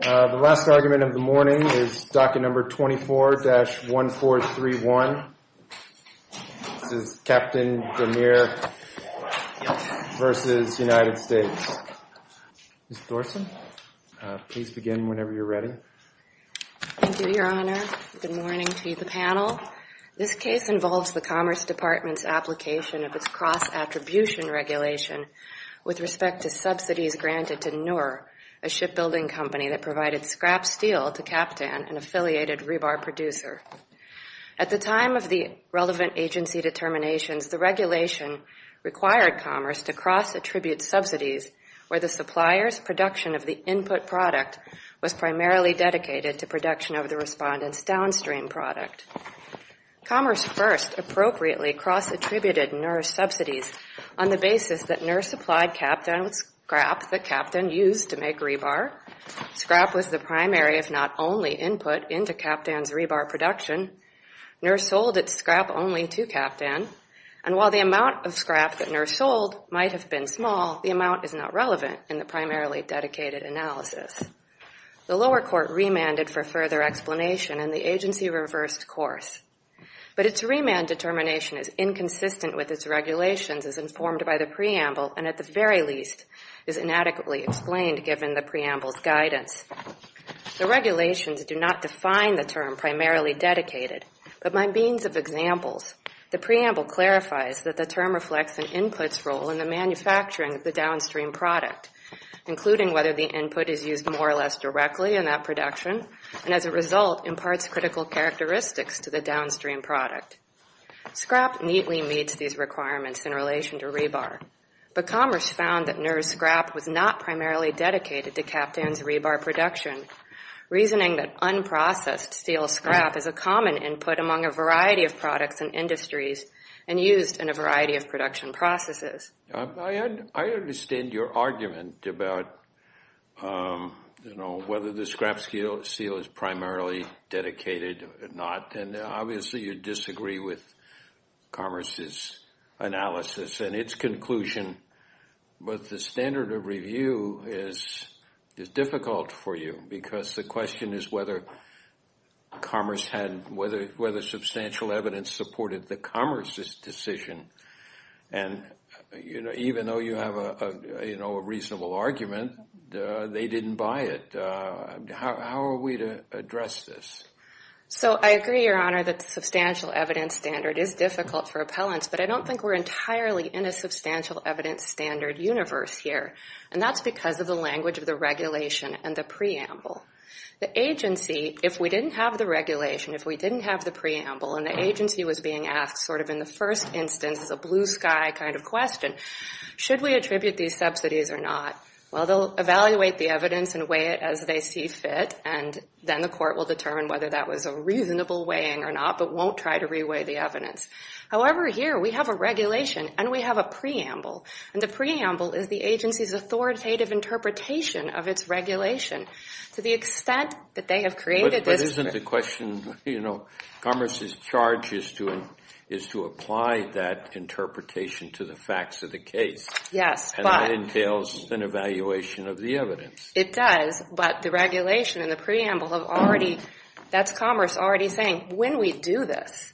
The last argument of the morning is docket number 24-1431. This is Kaptan Demir v. United States. Ms. Thorsen, please begin whenever you're ready. Thank you, Your Honor. Good morning to the panel. This case involves the Commerce Department's application of its cross-attribution regulation with respect to subsidies granted to NUR, a shipbuilding company that provided scrap steel to Kaptan, an affiliated rebar producer. At the time of the relevant agency determinations, the regulation required Commerce to cross-attribute subsidies where the supplier's production of the input product was primarily dedicated to production of the respondent's downstream product. Commerce first appropriately cross-attributed NUR subsidies on the basis that NUR supplied Kaptan with scrap that Kaptan used to make rebar. Scrap was the primary, if not only, input into Kaptan's rebar production. NUR sold its scrap only to Kaptan. And while the amount of scrap that NUR sold might have been small, the amount is not relevant in the primarily dedicated analysis. The lower court remanded for further explanation, and the agency reversed course. But its remand determination is inconsistent with its regulations as informed by the preamble, and at the very least is inadequately explained given the preamble's guidance. The regulations do not define the term primarily dedicated, but by means of examples, the preamble clarifies that the term reflects an input's role in the manufacturing of the downstream product, including whether the input is used more or less directly in that production, and as a result, imparts critical characteristics to the downstream product. Scrap neatly meets these requirements in relation to rebar. But Commerce found that NUR's scrap was not primarily dedicated to Kaptan's rebar production, reasoning that unprocessed steel scrap is a common input among a variety of products and industries and used in a variety of production processes. I understand your argument about whether the scrap steel is primarily dedicated or not, and obviously you disagree with Commerce's analysis and its conclusion, but the standard of review is difficult for you because the question is whether substantial evidence supported the Commerce's decision. And even though you have a reasonable argument, they didn't buy it. How are we to address this? So I agree, Your Honor, that the substantial evidence standard is difficult for appellants, but I don't think we're entirely in a substantial evidence standard universe here, and that's because of the language of the regulation and the preamble. The agency, if we didn't have the regulation, if we didn't have the preamble, and the agency was being asked sort of in the first instance, as a blue sky kind of question, should we attribute these subsidies or not? Well, they'll evaluate the evidence and weigh it as they see fit, and then the court will determine whether that was a reasonable weighing or not, but won't try to reweigh the evidence. However, here we have a regulation and we have a preamble, and the preamble is the agency's authoritative interpretation of its regulation. To the extent that they have created this... Isn't the question, you know, Commerce's charge is to apply that interpretation to the facts of the case. Yes, but... And that entails an evaluation of the evidence. It does, but the regulation and the preamble have already... That's Commerce already saying, when we do this,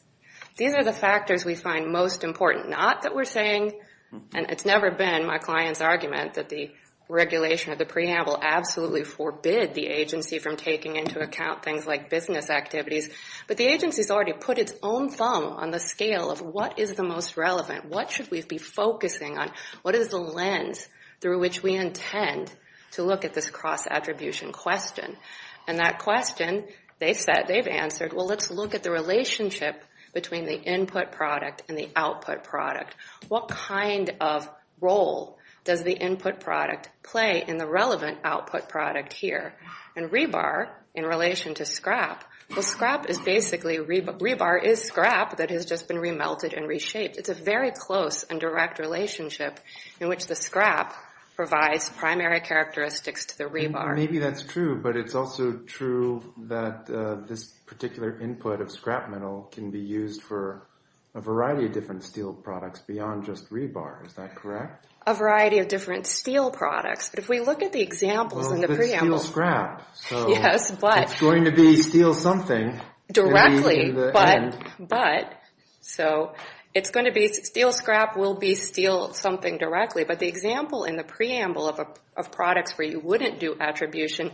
these are the factors we find most important. Not that we're saying, and it's never been my client's argument, that the regulation of the preamble absolutely forbid the agency from taking into account things like business activities, but the agency's already put its own thumb on the scale of, what is the most relevant? What should we be focusing on? What is the lens through which we intend to look at this cross-attribution question? And that question, they said, they've answered, well, let's look at the relationship between the input product and the output product. What kind of role does the input product play in the relevant output product here? And rebar, in relation to scrap, well, scrap is basically... Rebar is scrap that has just been remelted and reshaped. It's a very close and direct relationship in which the scrap provides primary characteristics to the rebar. Maybe that's true, but it's also true that this particular input of scrap metal can be used for a variety of different steel products beyond just rebar. Is that correct? A variety of different steel products. But if we look at the examples in the preamble... Yes, but... It's going to be steel something. Directly, but... So, it's going to be steel scrap will be steel something directly. But the example in the preamble of products where you wouldn't do attribution,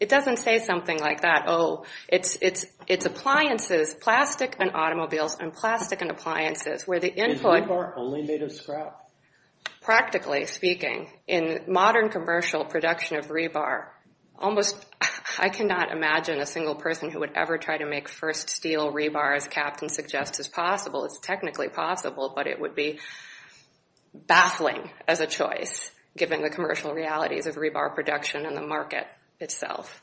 it doesn't say something like that. Oh, it's appliances, plastic and automobiles, and plastic and appliances, where the input... Is rebar only made of scrap? Practically speaking, in modern commercial production of rebar, almost I cannot imagine a single person who would ever try to make first steel rebar as Captain suggests is possible. It's technically possible, but it would be baffling as a choice given the commercial realities of rebar production and the market itself.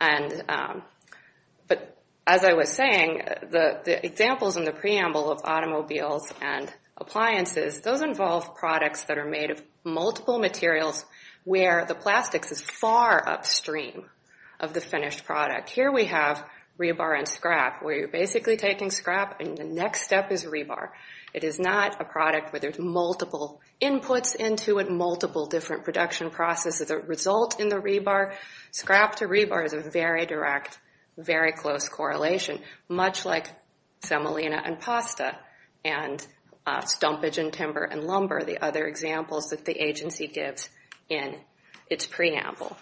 But as I was saying, the examples in the preamble of automobiles and appliances, those involve products that are made of multiple materials where the plastics is far upstream of the finished product. Here we have rebar and scrap, where you're basically taking scrap and the next step is rebar. It is not a product where there's multiple inputs into it, multiple different production processes that result in the rebar. Scrap to rebar is a very direct, very close correlation, much like semolina and pasta, and stumpage in timber and lumber, the other examples that the agency gives in its preamble.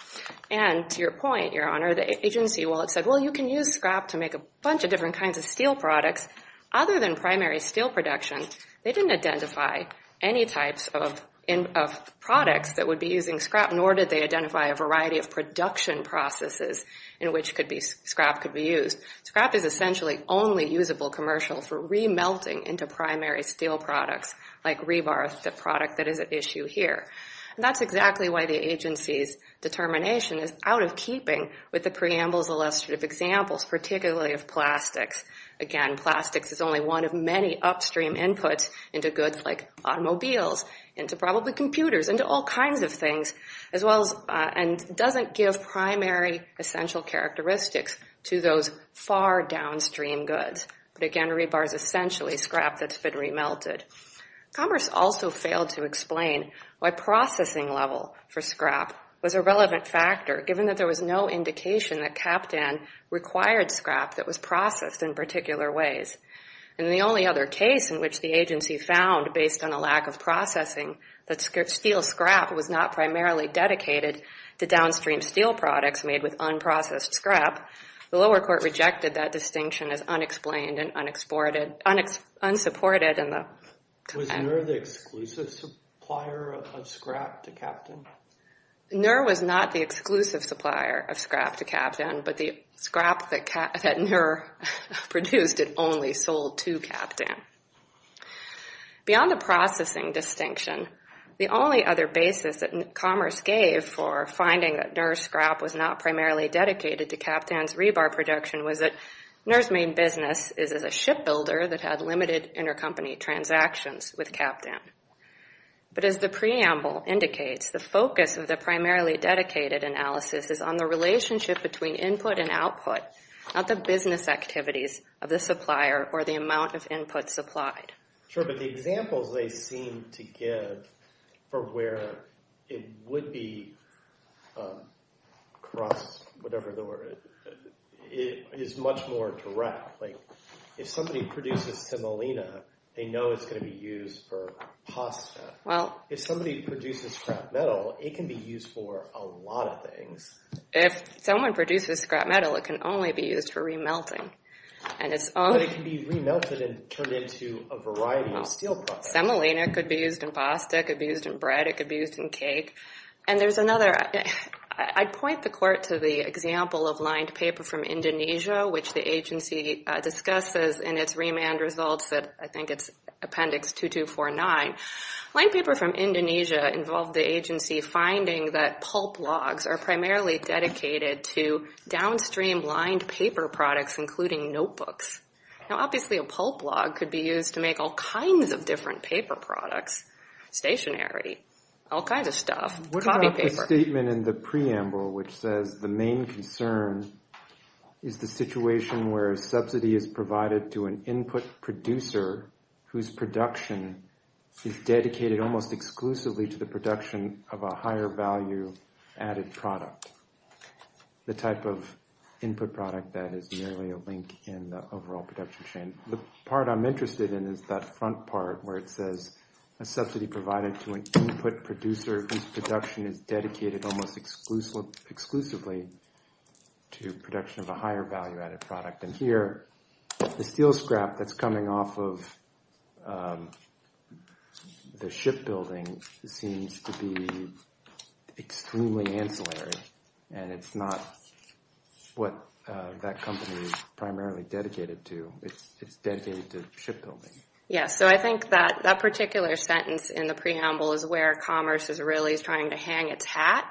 And to your point, Your Honor, the agency, while it said, well, you can use scrap to make a bunch of different kinds of steel products, other than primary steel production, they didn't identify any types of products that would be using scrap, nor did they identify a variety of production processes in which scrap could be used. Scrap is essentially only usable commercial for remelting into primary steel products like rebar, the product that is at issue here. And that's exactly why the agency's determination is out of keeping with the preamble's illustrative examples, particularly of plastics. Again, plastics is only one of many upstream inputs into goods like automobiles, into probably computers, into all kinds of things, as well as, and doesn't give primary essential characteristics to those far downstream goods. But again, rebar is essentially scrap that's been remelted. Commerce also failed to explain why processing level for scrap was a relevant factor, given that there was no indication that CapTan required scrap that was processed in particular ways. And the only other case in which the agency found, based on a lack of processing, that steel scrap was not primarily dedicated to downstream steel products made with unprocessed scrap, the lower court rejected that distinction as unexplained and unsupported in the... Was NUR the exclusive supplier of scrap to CapTan? NUR was not the exclusive supplier of scrap to CapTan, but the scrap that NUR produced, it only sold to CapTan. Beyond the processing distinction, the only other basis that commerce gave for finding that NUR scrap was not primarily dedicated to CapTan's rebar production was that NUR's main business is as a shipbuilder that had limited intercompany transactions with CapTan. But as the preamble indicates, the focus of the primarily dedicated analysis is on the relationship between input and output, not the business activities of the supplier or the amount of input supplied. Sure, but the examples they seem to give for where it would be... Um, cross, whatever the word, it is much more direct. Like, if somebody produces semolina, they know it's gonna be used for pasta. Well... If somebody produces scrap metal, it can be used for a lot of things. If someone produces scrap metal, it can only be used for remelting. And it's only... But it can be remelted and turned into a variety of steel products. Semolina could be used in pasta, it could be used in bread, it could be used in cake. And there's another... I'd point the court to the example of lined paper from Indonesia, which the agency discusses in its remand results that I think it's Appendix 2249. Lined paper from Indonesia involved the agency finding that pulp logs are primarily dedicated to downstream lined paper products, including notebooks. Now, obviously, a pulp log could be used to make all kinds of different paper products. Stationery, all kinds of stuff. Copy paper. What about the statement in the preamble which says the main concern is the situation where a subsidy is provided to an input producer whose production is dedicated almost exclusively to the production of a higher value added product. The type of input product that is nearly a link in the overall production chain. The part I'm interested in is that front part where it says a subsidy provided to an input producer whose production is dedicated almost exclusively to production of a higher value added product. And here, the steel scrap that's coming off of the shipbuilding seems to be extremely ancillary. And it's not what that company is primarily dedicated to. It's dedicated to shipbuilding. Yeah, so I think that that particular sentence in the preamble is where commerce is really trying to hang its hat.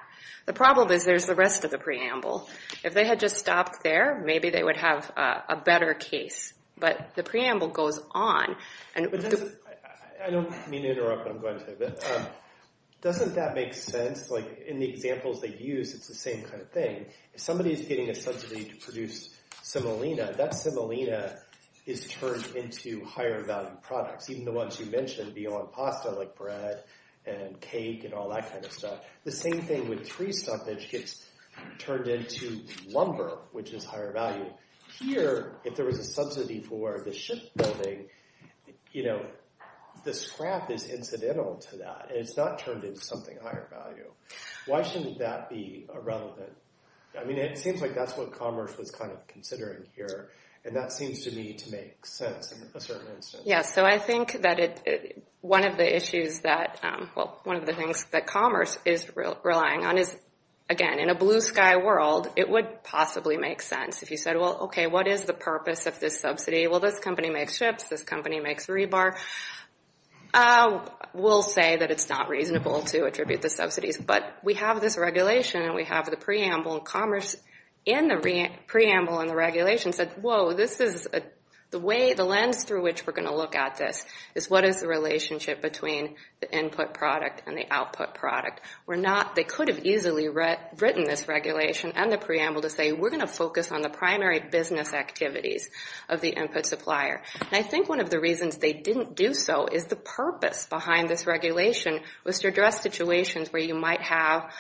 The problem is there's the rest of the preamble. If they had just stopped there, maybe they would have a better case. But the preamble goes on. I don't mean to interrupt, but I'm going to. Doesn't that make sense? Like in the examples they use, it's the same kind of thing. If somebody is getting a subsidy to produce simolina, that simolina is turned into higher value products, even the ones you mentioned beyond pasta, like bread and cake and all that kind of stuff. The same thing with tree stumpage gets turned into lumber, which is higher value. Here, if there was a subsidy for the shipbuilding, the scrap is incidental to that. It's not turned into something higher value. Why shouldn't that be irrelevant? I mean, it seems like that's what commerce was kind of considering here, and that seems to me to make sense in a certain instance. Yeah, so I think that one of the issues that, well, one of the things that commerce is relying on is, again, in a blue sky world, it would possibly make sense if you said, well, okay, what is the purpose of this subsidy? Well, this company makes ships. This company makes rebar. We'll say that it's not reasonable to attribute the subsidies, but we have this regulation and we have the preamble in commerce and the preamble and the regulation said, whoa, this is the way, the lens through which we're going to look at this is what is the relationship between the input product and the output product? They could have easily written this regulation and the preamble to say, we're going to focus on the primary business activities of the input supplier. And I think one of the reasons they didn't do so is the purpose behind this regulation was to address situations where you might have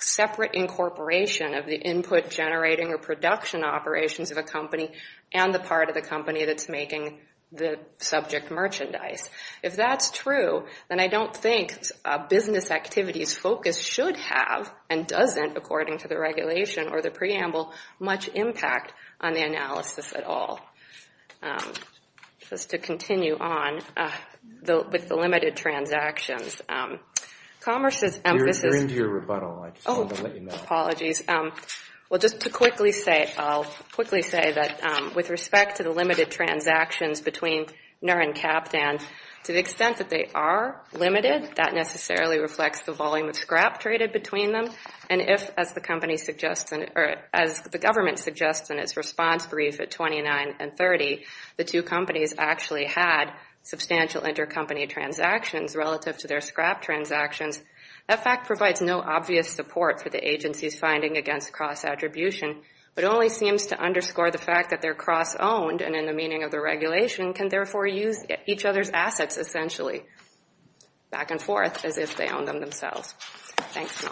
separate incorporation of the input generating or production operations of a company and the part of the company that's making the subject merchandise. If that's true, then I don't think business activities focus should have and doesn't, according to the regulation or the preamble, much impact on the analysis at all. Just to continue on with the limited transactions. Commerce's emphasis- You're into your rebuttal. I just wanted to let you know. Apologies. Well, just to quickly say, I'll quickly say that with respect to the limited transactions between NER and CAPTAN, to the extent that they are limited, that necessarily reflects the volume of scrap traded between them. And if, as the company suggests, or as the government suggests in its response brief at 29 and 30, the two companies actually had substantial intercompany transactions relative to their scrap transactions, that fact provides no obvious support for the agency's finding against cross-attribution, but only seems to underscore the fact that they're cross-owned and in the meaning of the regulation can therefore use each other's assets essentially back and forth as if they own them themselves. Thanks.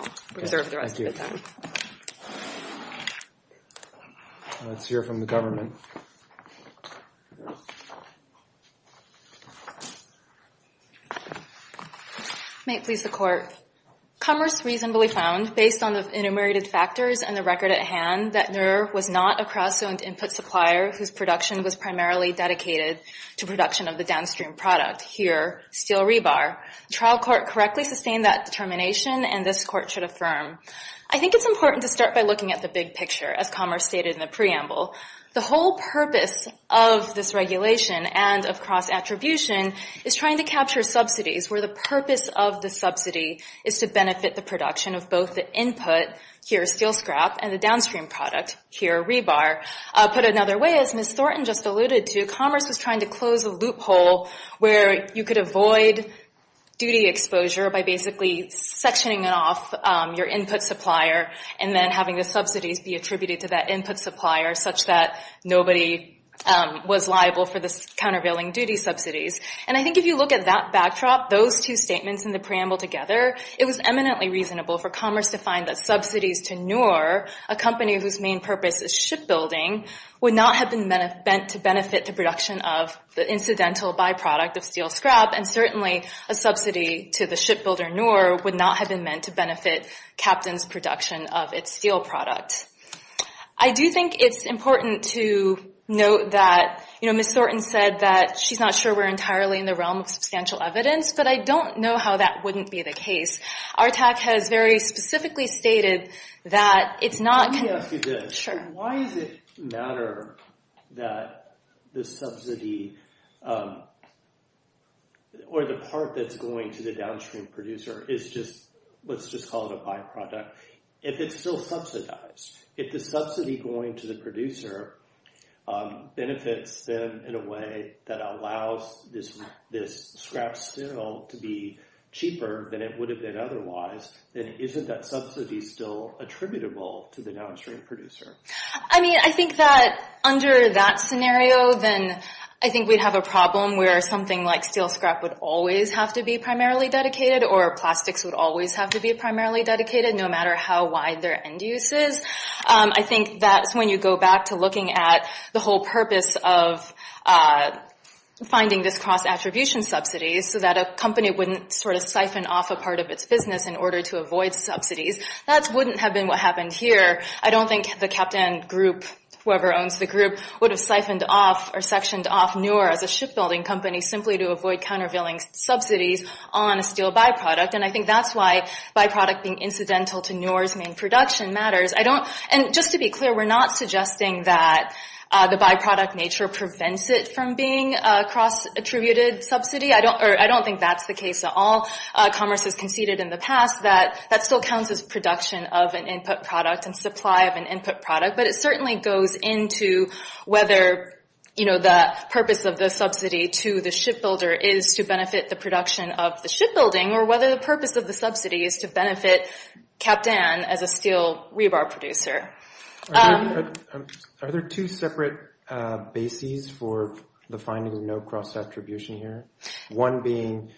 Let's hear from the government. May it please the court. Commerce reasonably found based on the enumerated factors and the record at hand that NER was not a cross-owned input supplier whose production was primarily dedicated to production of the downstream product. Here, steel rebar. Trial court correctly sustained that determination and this court should affirm. I think it's important to start by looking at the big picture as Commerce stated in the preamble. The whole purpose of this regulation and of cross-attribution is trying to capture subsidies where the purpose of the subsidy is to benefit the production of both the input, here steel scrap, and the downstream product, here rebar. Put another way, as Ms. Thornton just alluded to, Commerce was trying to close a loophole where you could avoid duty exposure by basically sectioning it off your input supplier and then having the subsidies be attributed to that input supplier such that nobody was liable for this countervailing duty subsidies. And I think if you look at that backdrop, those two statements in the preamble together, it was eminently reasonable for Commerce to find that subsidies to Noor, a company whose main purpose is shipbuilding, would not have been meant to benefit the production of the incidental byproduct of steel scrap, and certainly a subsidy to the shipbuilder Noor would not have been meant to benefit Captain's production of its steel product. I do think it's important to note that, you know, Ms. Thornton said that she's not sure we're entirely in the realm of substantial evidence, but I don't know how that wouldn't be the case. Our TAC has very specifically stated that it's not... Let me ask you this. Sure. Why does it matter that the subsidy or the part that's going to the downstream producer is just, let's just call it a byproduct, if it's still subsidized? If the subsidy going to the producer benefits them in a way that allows this scrap steel to be cheaper than it would have been otherwise, then isn't that subsidy still attributable to the downstream producer? I mean, I think that under that scenario, then I think we'd have a problem where something like steel scrap would always have to be primarily dedicated or plastics would always have to be primarily dedicated, no matter how wide their end use is. I think that's when you go back to looking at the whole purpose of finding this cross-attribution subsidy so that a company wouldn't sort of siphon off a part of its business in order to avoid subsidies. That wouldn't have been what happened here. I don't think the captain group, whoever owns the group, would have siphoned off or sectioned off Newer as a shipbuilding company simply to avoid countervailing subsidies on a steel byproduct. And I think that's why byproduct being incidental to Newer's main production matters. And just to be clear, we're not suggesting that the byproduct nature prevents it from being a cross-attributed subsidy. I don't think that's the case at all. Commerce has conceded in the past that that still counts as production of an input product and supply of an input product. But it certainly goes into whether the purpose of the subsidy to the shipbuilder is to benefit the production of the shipbuilding or whether the purpose of the subsidy is to benefit Captain as a steel rebar producer. Are there two separate bases for the finding of no cross-attribution here? One being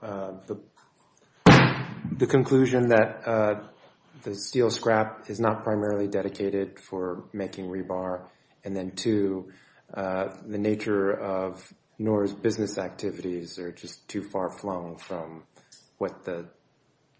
the conclusion that the steel scrap is not primarily dedicated for making rebar. And then two, the nature of Newer's business activities are just too far flung from what the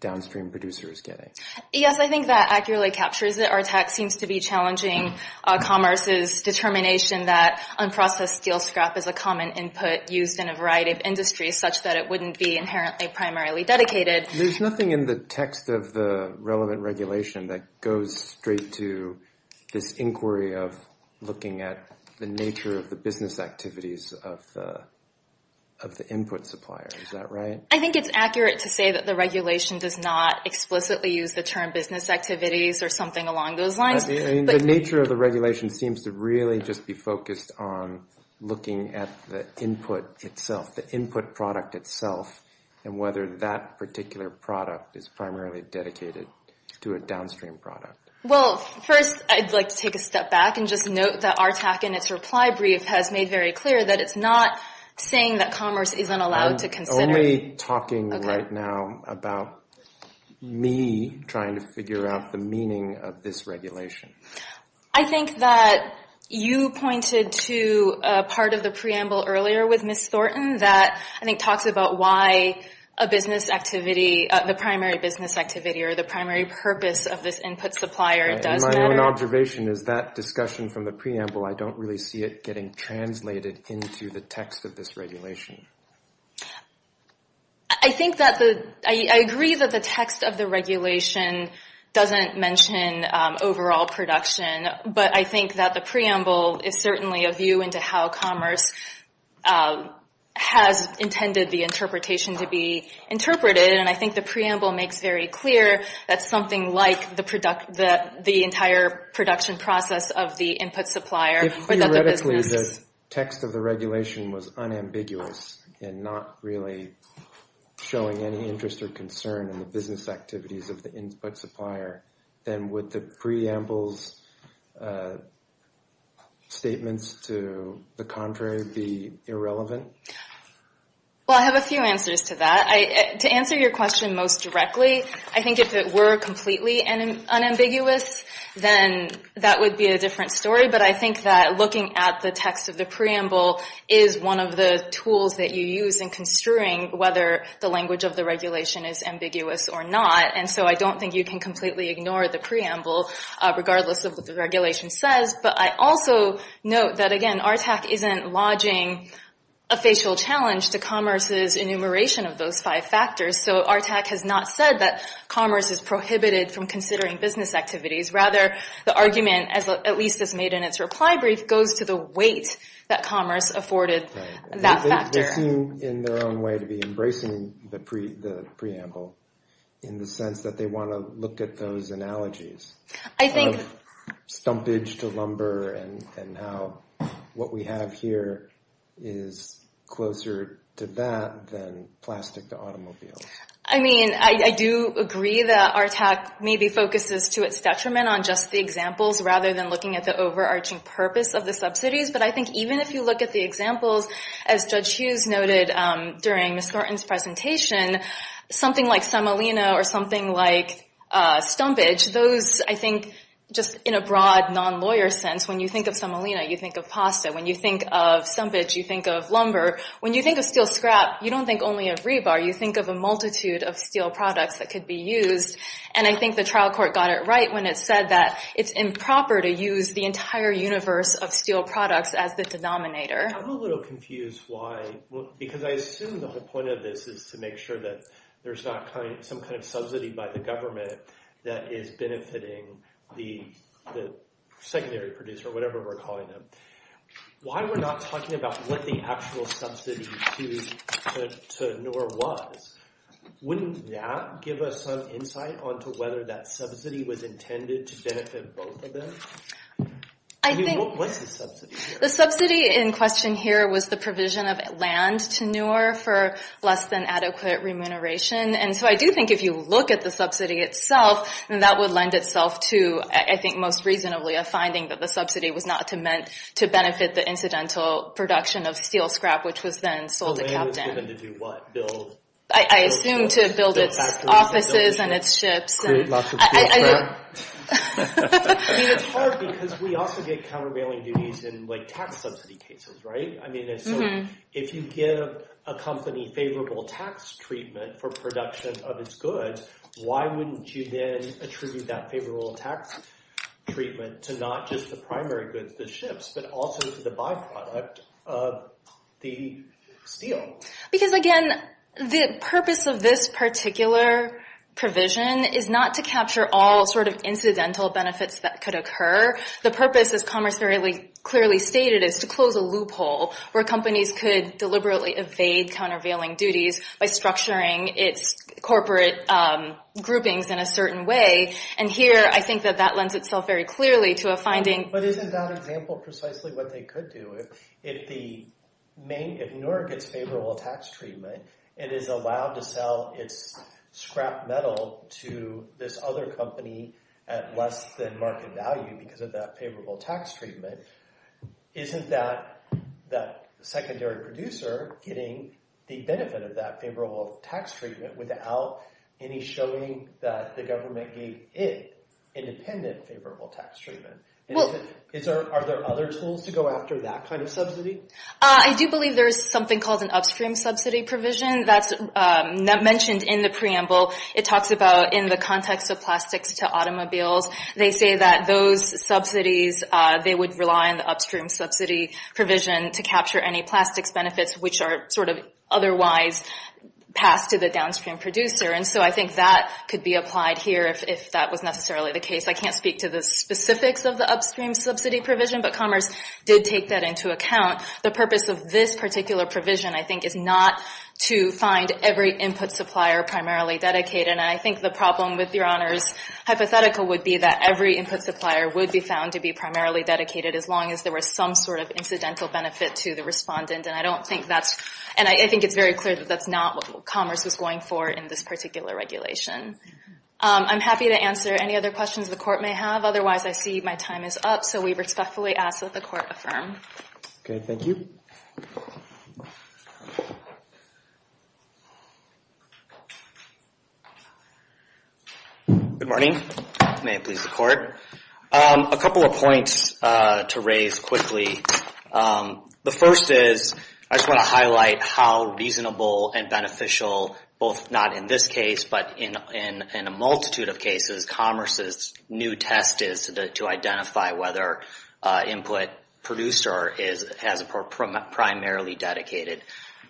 downstream producer is getting. Yes, I think that accurately captures it. Our tech seems to be challenging Commerce's determination that unprocessed steel scrap is a common input used in a variety of industries such that it wouldn't be inherently primarily dedicated. There's nothing in the text of the relevant regulation that goes straight to this inquiry of looking at the nature of the business activities of the input supplier. Is that right? I think it's accurate to say that the regulation does not explicitly use the term business activities or something along those lines. The nature of the regulation seems to really just be focused on looking at the input itself, the input product itself, and whether that particular product is primarily dedicated to a downstream product. Well, first I'd like to take a step back and just note that our tech in its reply brief has made very clear that it's not saying that Commerce isn't allowed to consider... I'm only talking right now about me trying to figure out the meaning of this regulation. I think that you pointed to a part of the preamble earlier with Ms. Thornton that I think talks about why a business activity, the primary business activity or the primary purpose of this input supplier does matter. My own observation is that discussion from the preamble, I don't really see it getting translated into the text of this regulation. I think that the... I agree that the text of the regulation doesn't mention overall production, but I think that the preamble is certainly a view into how Commerce has intended the interpretation to be interpreted. And I think the preamble makes very clear that something like the entire production process of the input supplier... If theoretically the text of the regulation was unambiguous and not really showing any interest or concern in the business activities of the input supplier, then would the preamble's statements to the contrary be irrelevant? Well, I have a few answers to that. To answer your question most directly, I think if it were completely unambiguous, then that would be a different story. But I think that looking at the text of the preamble is one of the tools that you use in construing whether the language of the regulation is ambiguous or not. So I don't think you can completely ignore the preamble regardless of what the regulation says. But I also note that, again, ARTAC isn't lodging a facial challenge to Commerce's enumeration of those five factors. So ARTAC has not said that Commerce is prohibited from considering business activities. Rather, the argument, at least as made in its reply brief, goes to the weight that Commerce afforded that factor. They seem in their own way to be embracing the preamble in the sense that they want to look at those analogies. A lot of stumpage to lumber and how what we have here is closer to that than plastic to automobiles. I mean, I do agree that ARTAC maybe focuses to its detriment on just the examples rather than looking at the overarching purpose of the subsidies. But I think even if you look at the examples, as Judge Hughes noted during Ms. Norton's presentation, something like semolina or something like stumpage, those, I think, just in a broad, non-lawyer sense, when you think of semolina, you think of pasta. When you think of stumpage, you think of lumber. When you think of steel scrap, you don't think only of rebar. You think of a multitude of steel products that could be used. And I think the trial court got it right when it said that it's improper to use the entire universe of steel products as the denominator. I'm a little confused why. Because I assume the whole point of this is to make sure that there's not some kind of subsidy by the government that is benefiting the secondary producer, whatever we're calling them. Why are we not talking about what the actual subsidy to Neuer was? Wouldn't that give us some insight onto whether that subsidy was intended to benefit both of them? What's the subsidy here? The subsidy in question here was the provision of land to Neuer for less than adequate remuneration. And so I do think if you look at the subsidy itself, then that would lend itself to, I think most reasonably, a finding that the subsidy was not meant to benefit the incidental production of steel scrap, which was then sold to Captain. The land was given to do what? Build? I assume to build its offices and its ships. Create lots of steel scrap? I mean, it's hard because we also get countervailing duties in tax subsidy cases, right? If you give a company favorable tax treatment for production of its goods, why wouldn't you then attribute that favorable tax treatment to not just the primary goods, the ships, but also to the byproduct of the steel? Because again, the purpose of this particular provision is not to capture all sort of incidental benefits that could occur. The purpose, as Commerce clearly stated, is to close a loophole where companies could deliberately evade countervailing duties by structuring its corporate groupings in a certain way. And here, I think that that lends itself very clearly to a finding. But isn't that example precisely what they could do? If Nure gets favorable tax treatment, it is allowed to sell its scrap metal to this other company at less than market value because of that favorable tax treatment. Isn't that the secondary producer getting the benefit of that favorable tax treatment without any showing that the government gave it independent favorable tax treatment? Are there other tools to go after that kind of subsidy? I do believe there's something called an upstream subsidy provision that's mentioned in the preamble. It talks about in the context of plastics to automobiles, they say that those subsidies, they would rely on the upstream subsidy provision to capture any plastics benefits which are sort of otherwise passed to the downstream producer. And so I think that could be applied here if that was necessarily the case. I can't speak to the specifics of the upstream subsidy provision, but Commerce did take that into account. The purpose of this particular provision, I think, is not to find every input supplier primarily dedicated. And I think the problem with Your Honor's hypothetical would be that every input supplier would be found to be primarily dedicated as long as there was some sort of incidental benefit to the respondent. And I don't think that's, and I think it's very clear that that's not what Commerce was going for in this particular regulation. I'm happy to answer any other questions the court may have. Otherwise, I see my time is up. So we respectfully ask that the court affirm. Okay, thank you. Good morning. May it please the court. A couple of points to raise quickly. The first is, I just want to highlight how reasonable and beneficial, both not in this case, but in a multitude of cases, Commerce's new test is to identify whether input producer has a primarily dedicated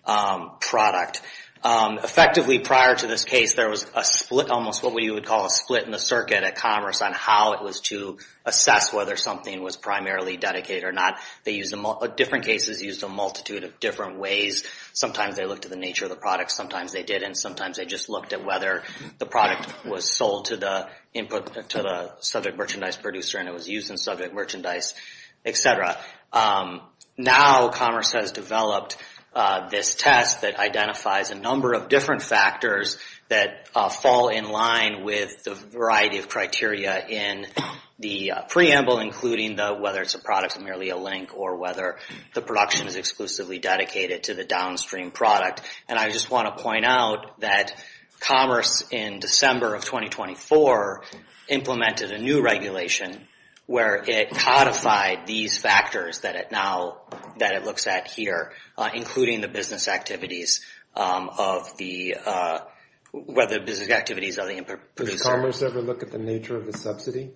product. Effectively, prior to this case, there was a split, almost what we would call a split in the circuit at Commerce on how it was to assess whether something was primarily dedicated or not. They used, different cases used a multitude of different ways. Sometimes they looked at the nature of the product. Sometimes they didn't. Sometimes they just looked at whether the product was sold to the input to the subject merchandise producer and it was used in subject merchandise, etc. Now, Commerce has developed this test that identifies a number of different factors that fall in line with the variety of criteria in the preamble, including whether it's a product and merely a link or whether the production is exclusively dedicated to the downstream product. And I just want to point out that Commerce, in December of 2024, implemented a new regulation where it codified these factors that it now, that it looks at here, including the business activities of the, whether business activities of the input producer. Does Commerce ever look at the nature of the subsidy?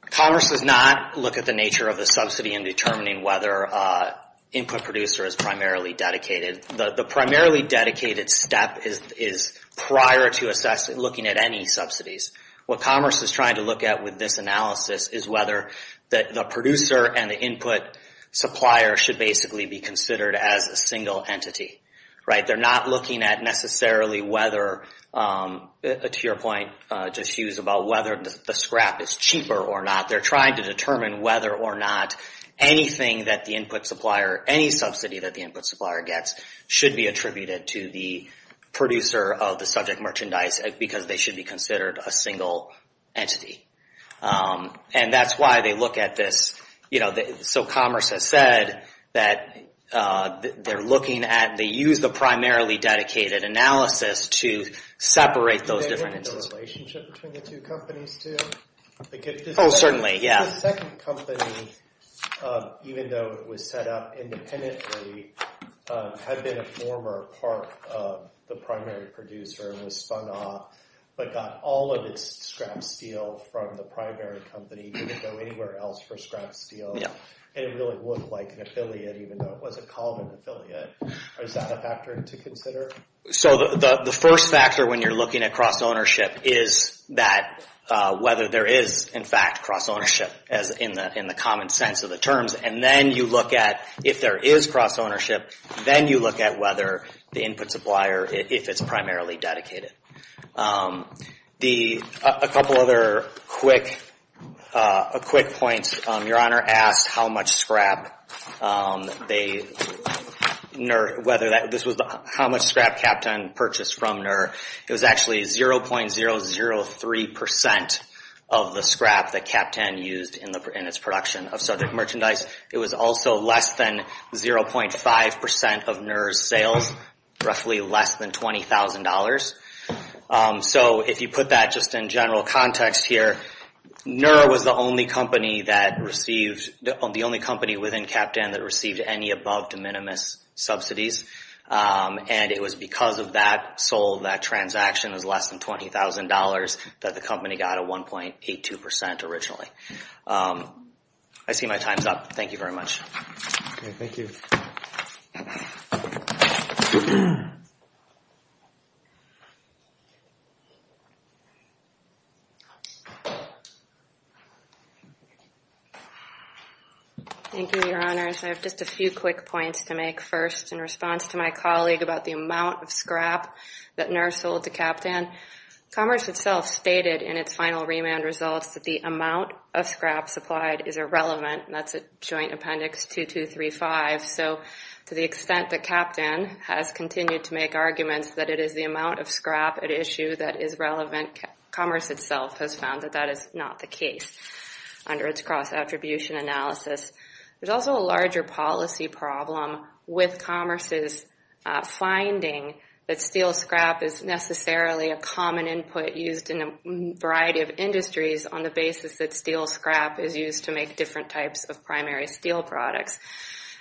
Commerce does not look at the nature of the subsidy in determining whether input producer is primarily dedicated. The primarily dedicated step is prior to assessing, looking at any subsidies. What Commerce is trying to look at with this analysis is whether the producer and the input supplier should basically be considered as a single entity, right? They're not looking at necessarily whether, to your point, Jeff Hughes, about whether the scrap is cheaper or not. They're trying to determine whether or not anything that the input supplier, any subsidy that the input supplier gets should be attributed to the producer of the subject merchandise because they should be considered a single entity. And that's why they look at this, you know, so Commerce has said that they're looking at, they use the primarily dedicated analysis to separate those into a relationship between the two companies, too. Oh, certainly, yeah. The second company, even though it was set up independently, had been a former part of the primary producer and was spun off, but got all of its scrap steel from the primary company, didn't go anywhere else for scrap steel, and it really looked like an affiliate, even though it wasn't called an affiliate. Is that a factor to consider? So the first factor when you're looking across ownership is that whether there is, in fact, cross ownership as in the common sense of the terms, and then you look at if there is cross ownership, then you look at whether the input supplier, if it's primarily dedicated. A couple other quick points. Your Honor asked how much scrap they, NER, whether that, this was how much scrap CAPTON purchased from NER. It was actually 0.003% of the scrap that CAPTON used in its production of subject merchandise. It was also less than 0.5% of NER's sales, roughly less than $20,000. So if you put that just in general context here, NER was the only company that received, the only company within CAPTON that received any above de minimis subsidies, and it was because of that that transaction was less than $20,000 that the company got a 1.82% originally. I see my time's up. Thank you very much. Okay, thank you. Thank you, Your Honor. I have just a few quick points to make first in response to my colleague about the amount of scrap that NER sold to CAPTON. Commerce itself stated in its final remand results that the amount of scrap supplied is irrelevant, and that's at Joint Appendix 2235. So to the extent that CAPTON has continued to make arguments that it is the amount of scrap at issue that is relevant, Commerce itself has found that that is not the case under its cross-attribution analysis. There's also a larger policy problem with Commerce's finding that steel scrap is necessarily a common input used in a variety of industries on the basis that steel scrap is used to make different types of primary steel products,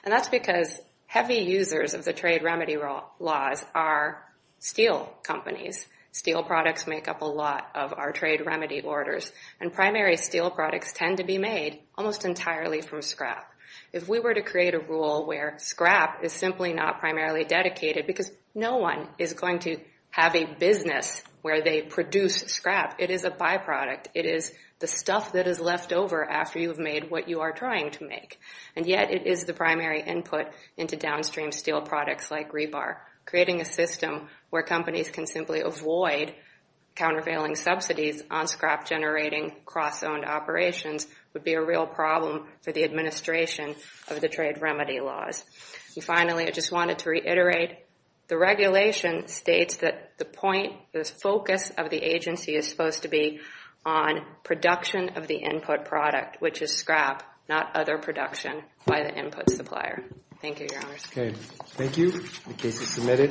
and that's because heavy users of the trade remedy laws are steel companies. Steel products make up a lot of our trade remedy orders, and primary steel products tend to be made almost entirely from scrap. If we were to create a rule where scrap is simply not primarily dedicated because no one is going to have a business where they produce scrap, it is a byproduct. It is the stuff that is left over after you have made what you are trying to make, and yet it is the primary input into downstream steel products like rebar. Creating a system where companies can simply avoid countervailing subsidies on scrap-generating cross-owned operations would be a real problem for the administration of the trade remedy laws. And finally, I just wanted to reiterate, the regulation states that the point, the focus of the agency is supposed to be on production of the input product, which is scrap, not other production by the input supplier. Thank you, Your Honors. Okay, thank you. The case is submitted.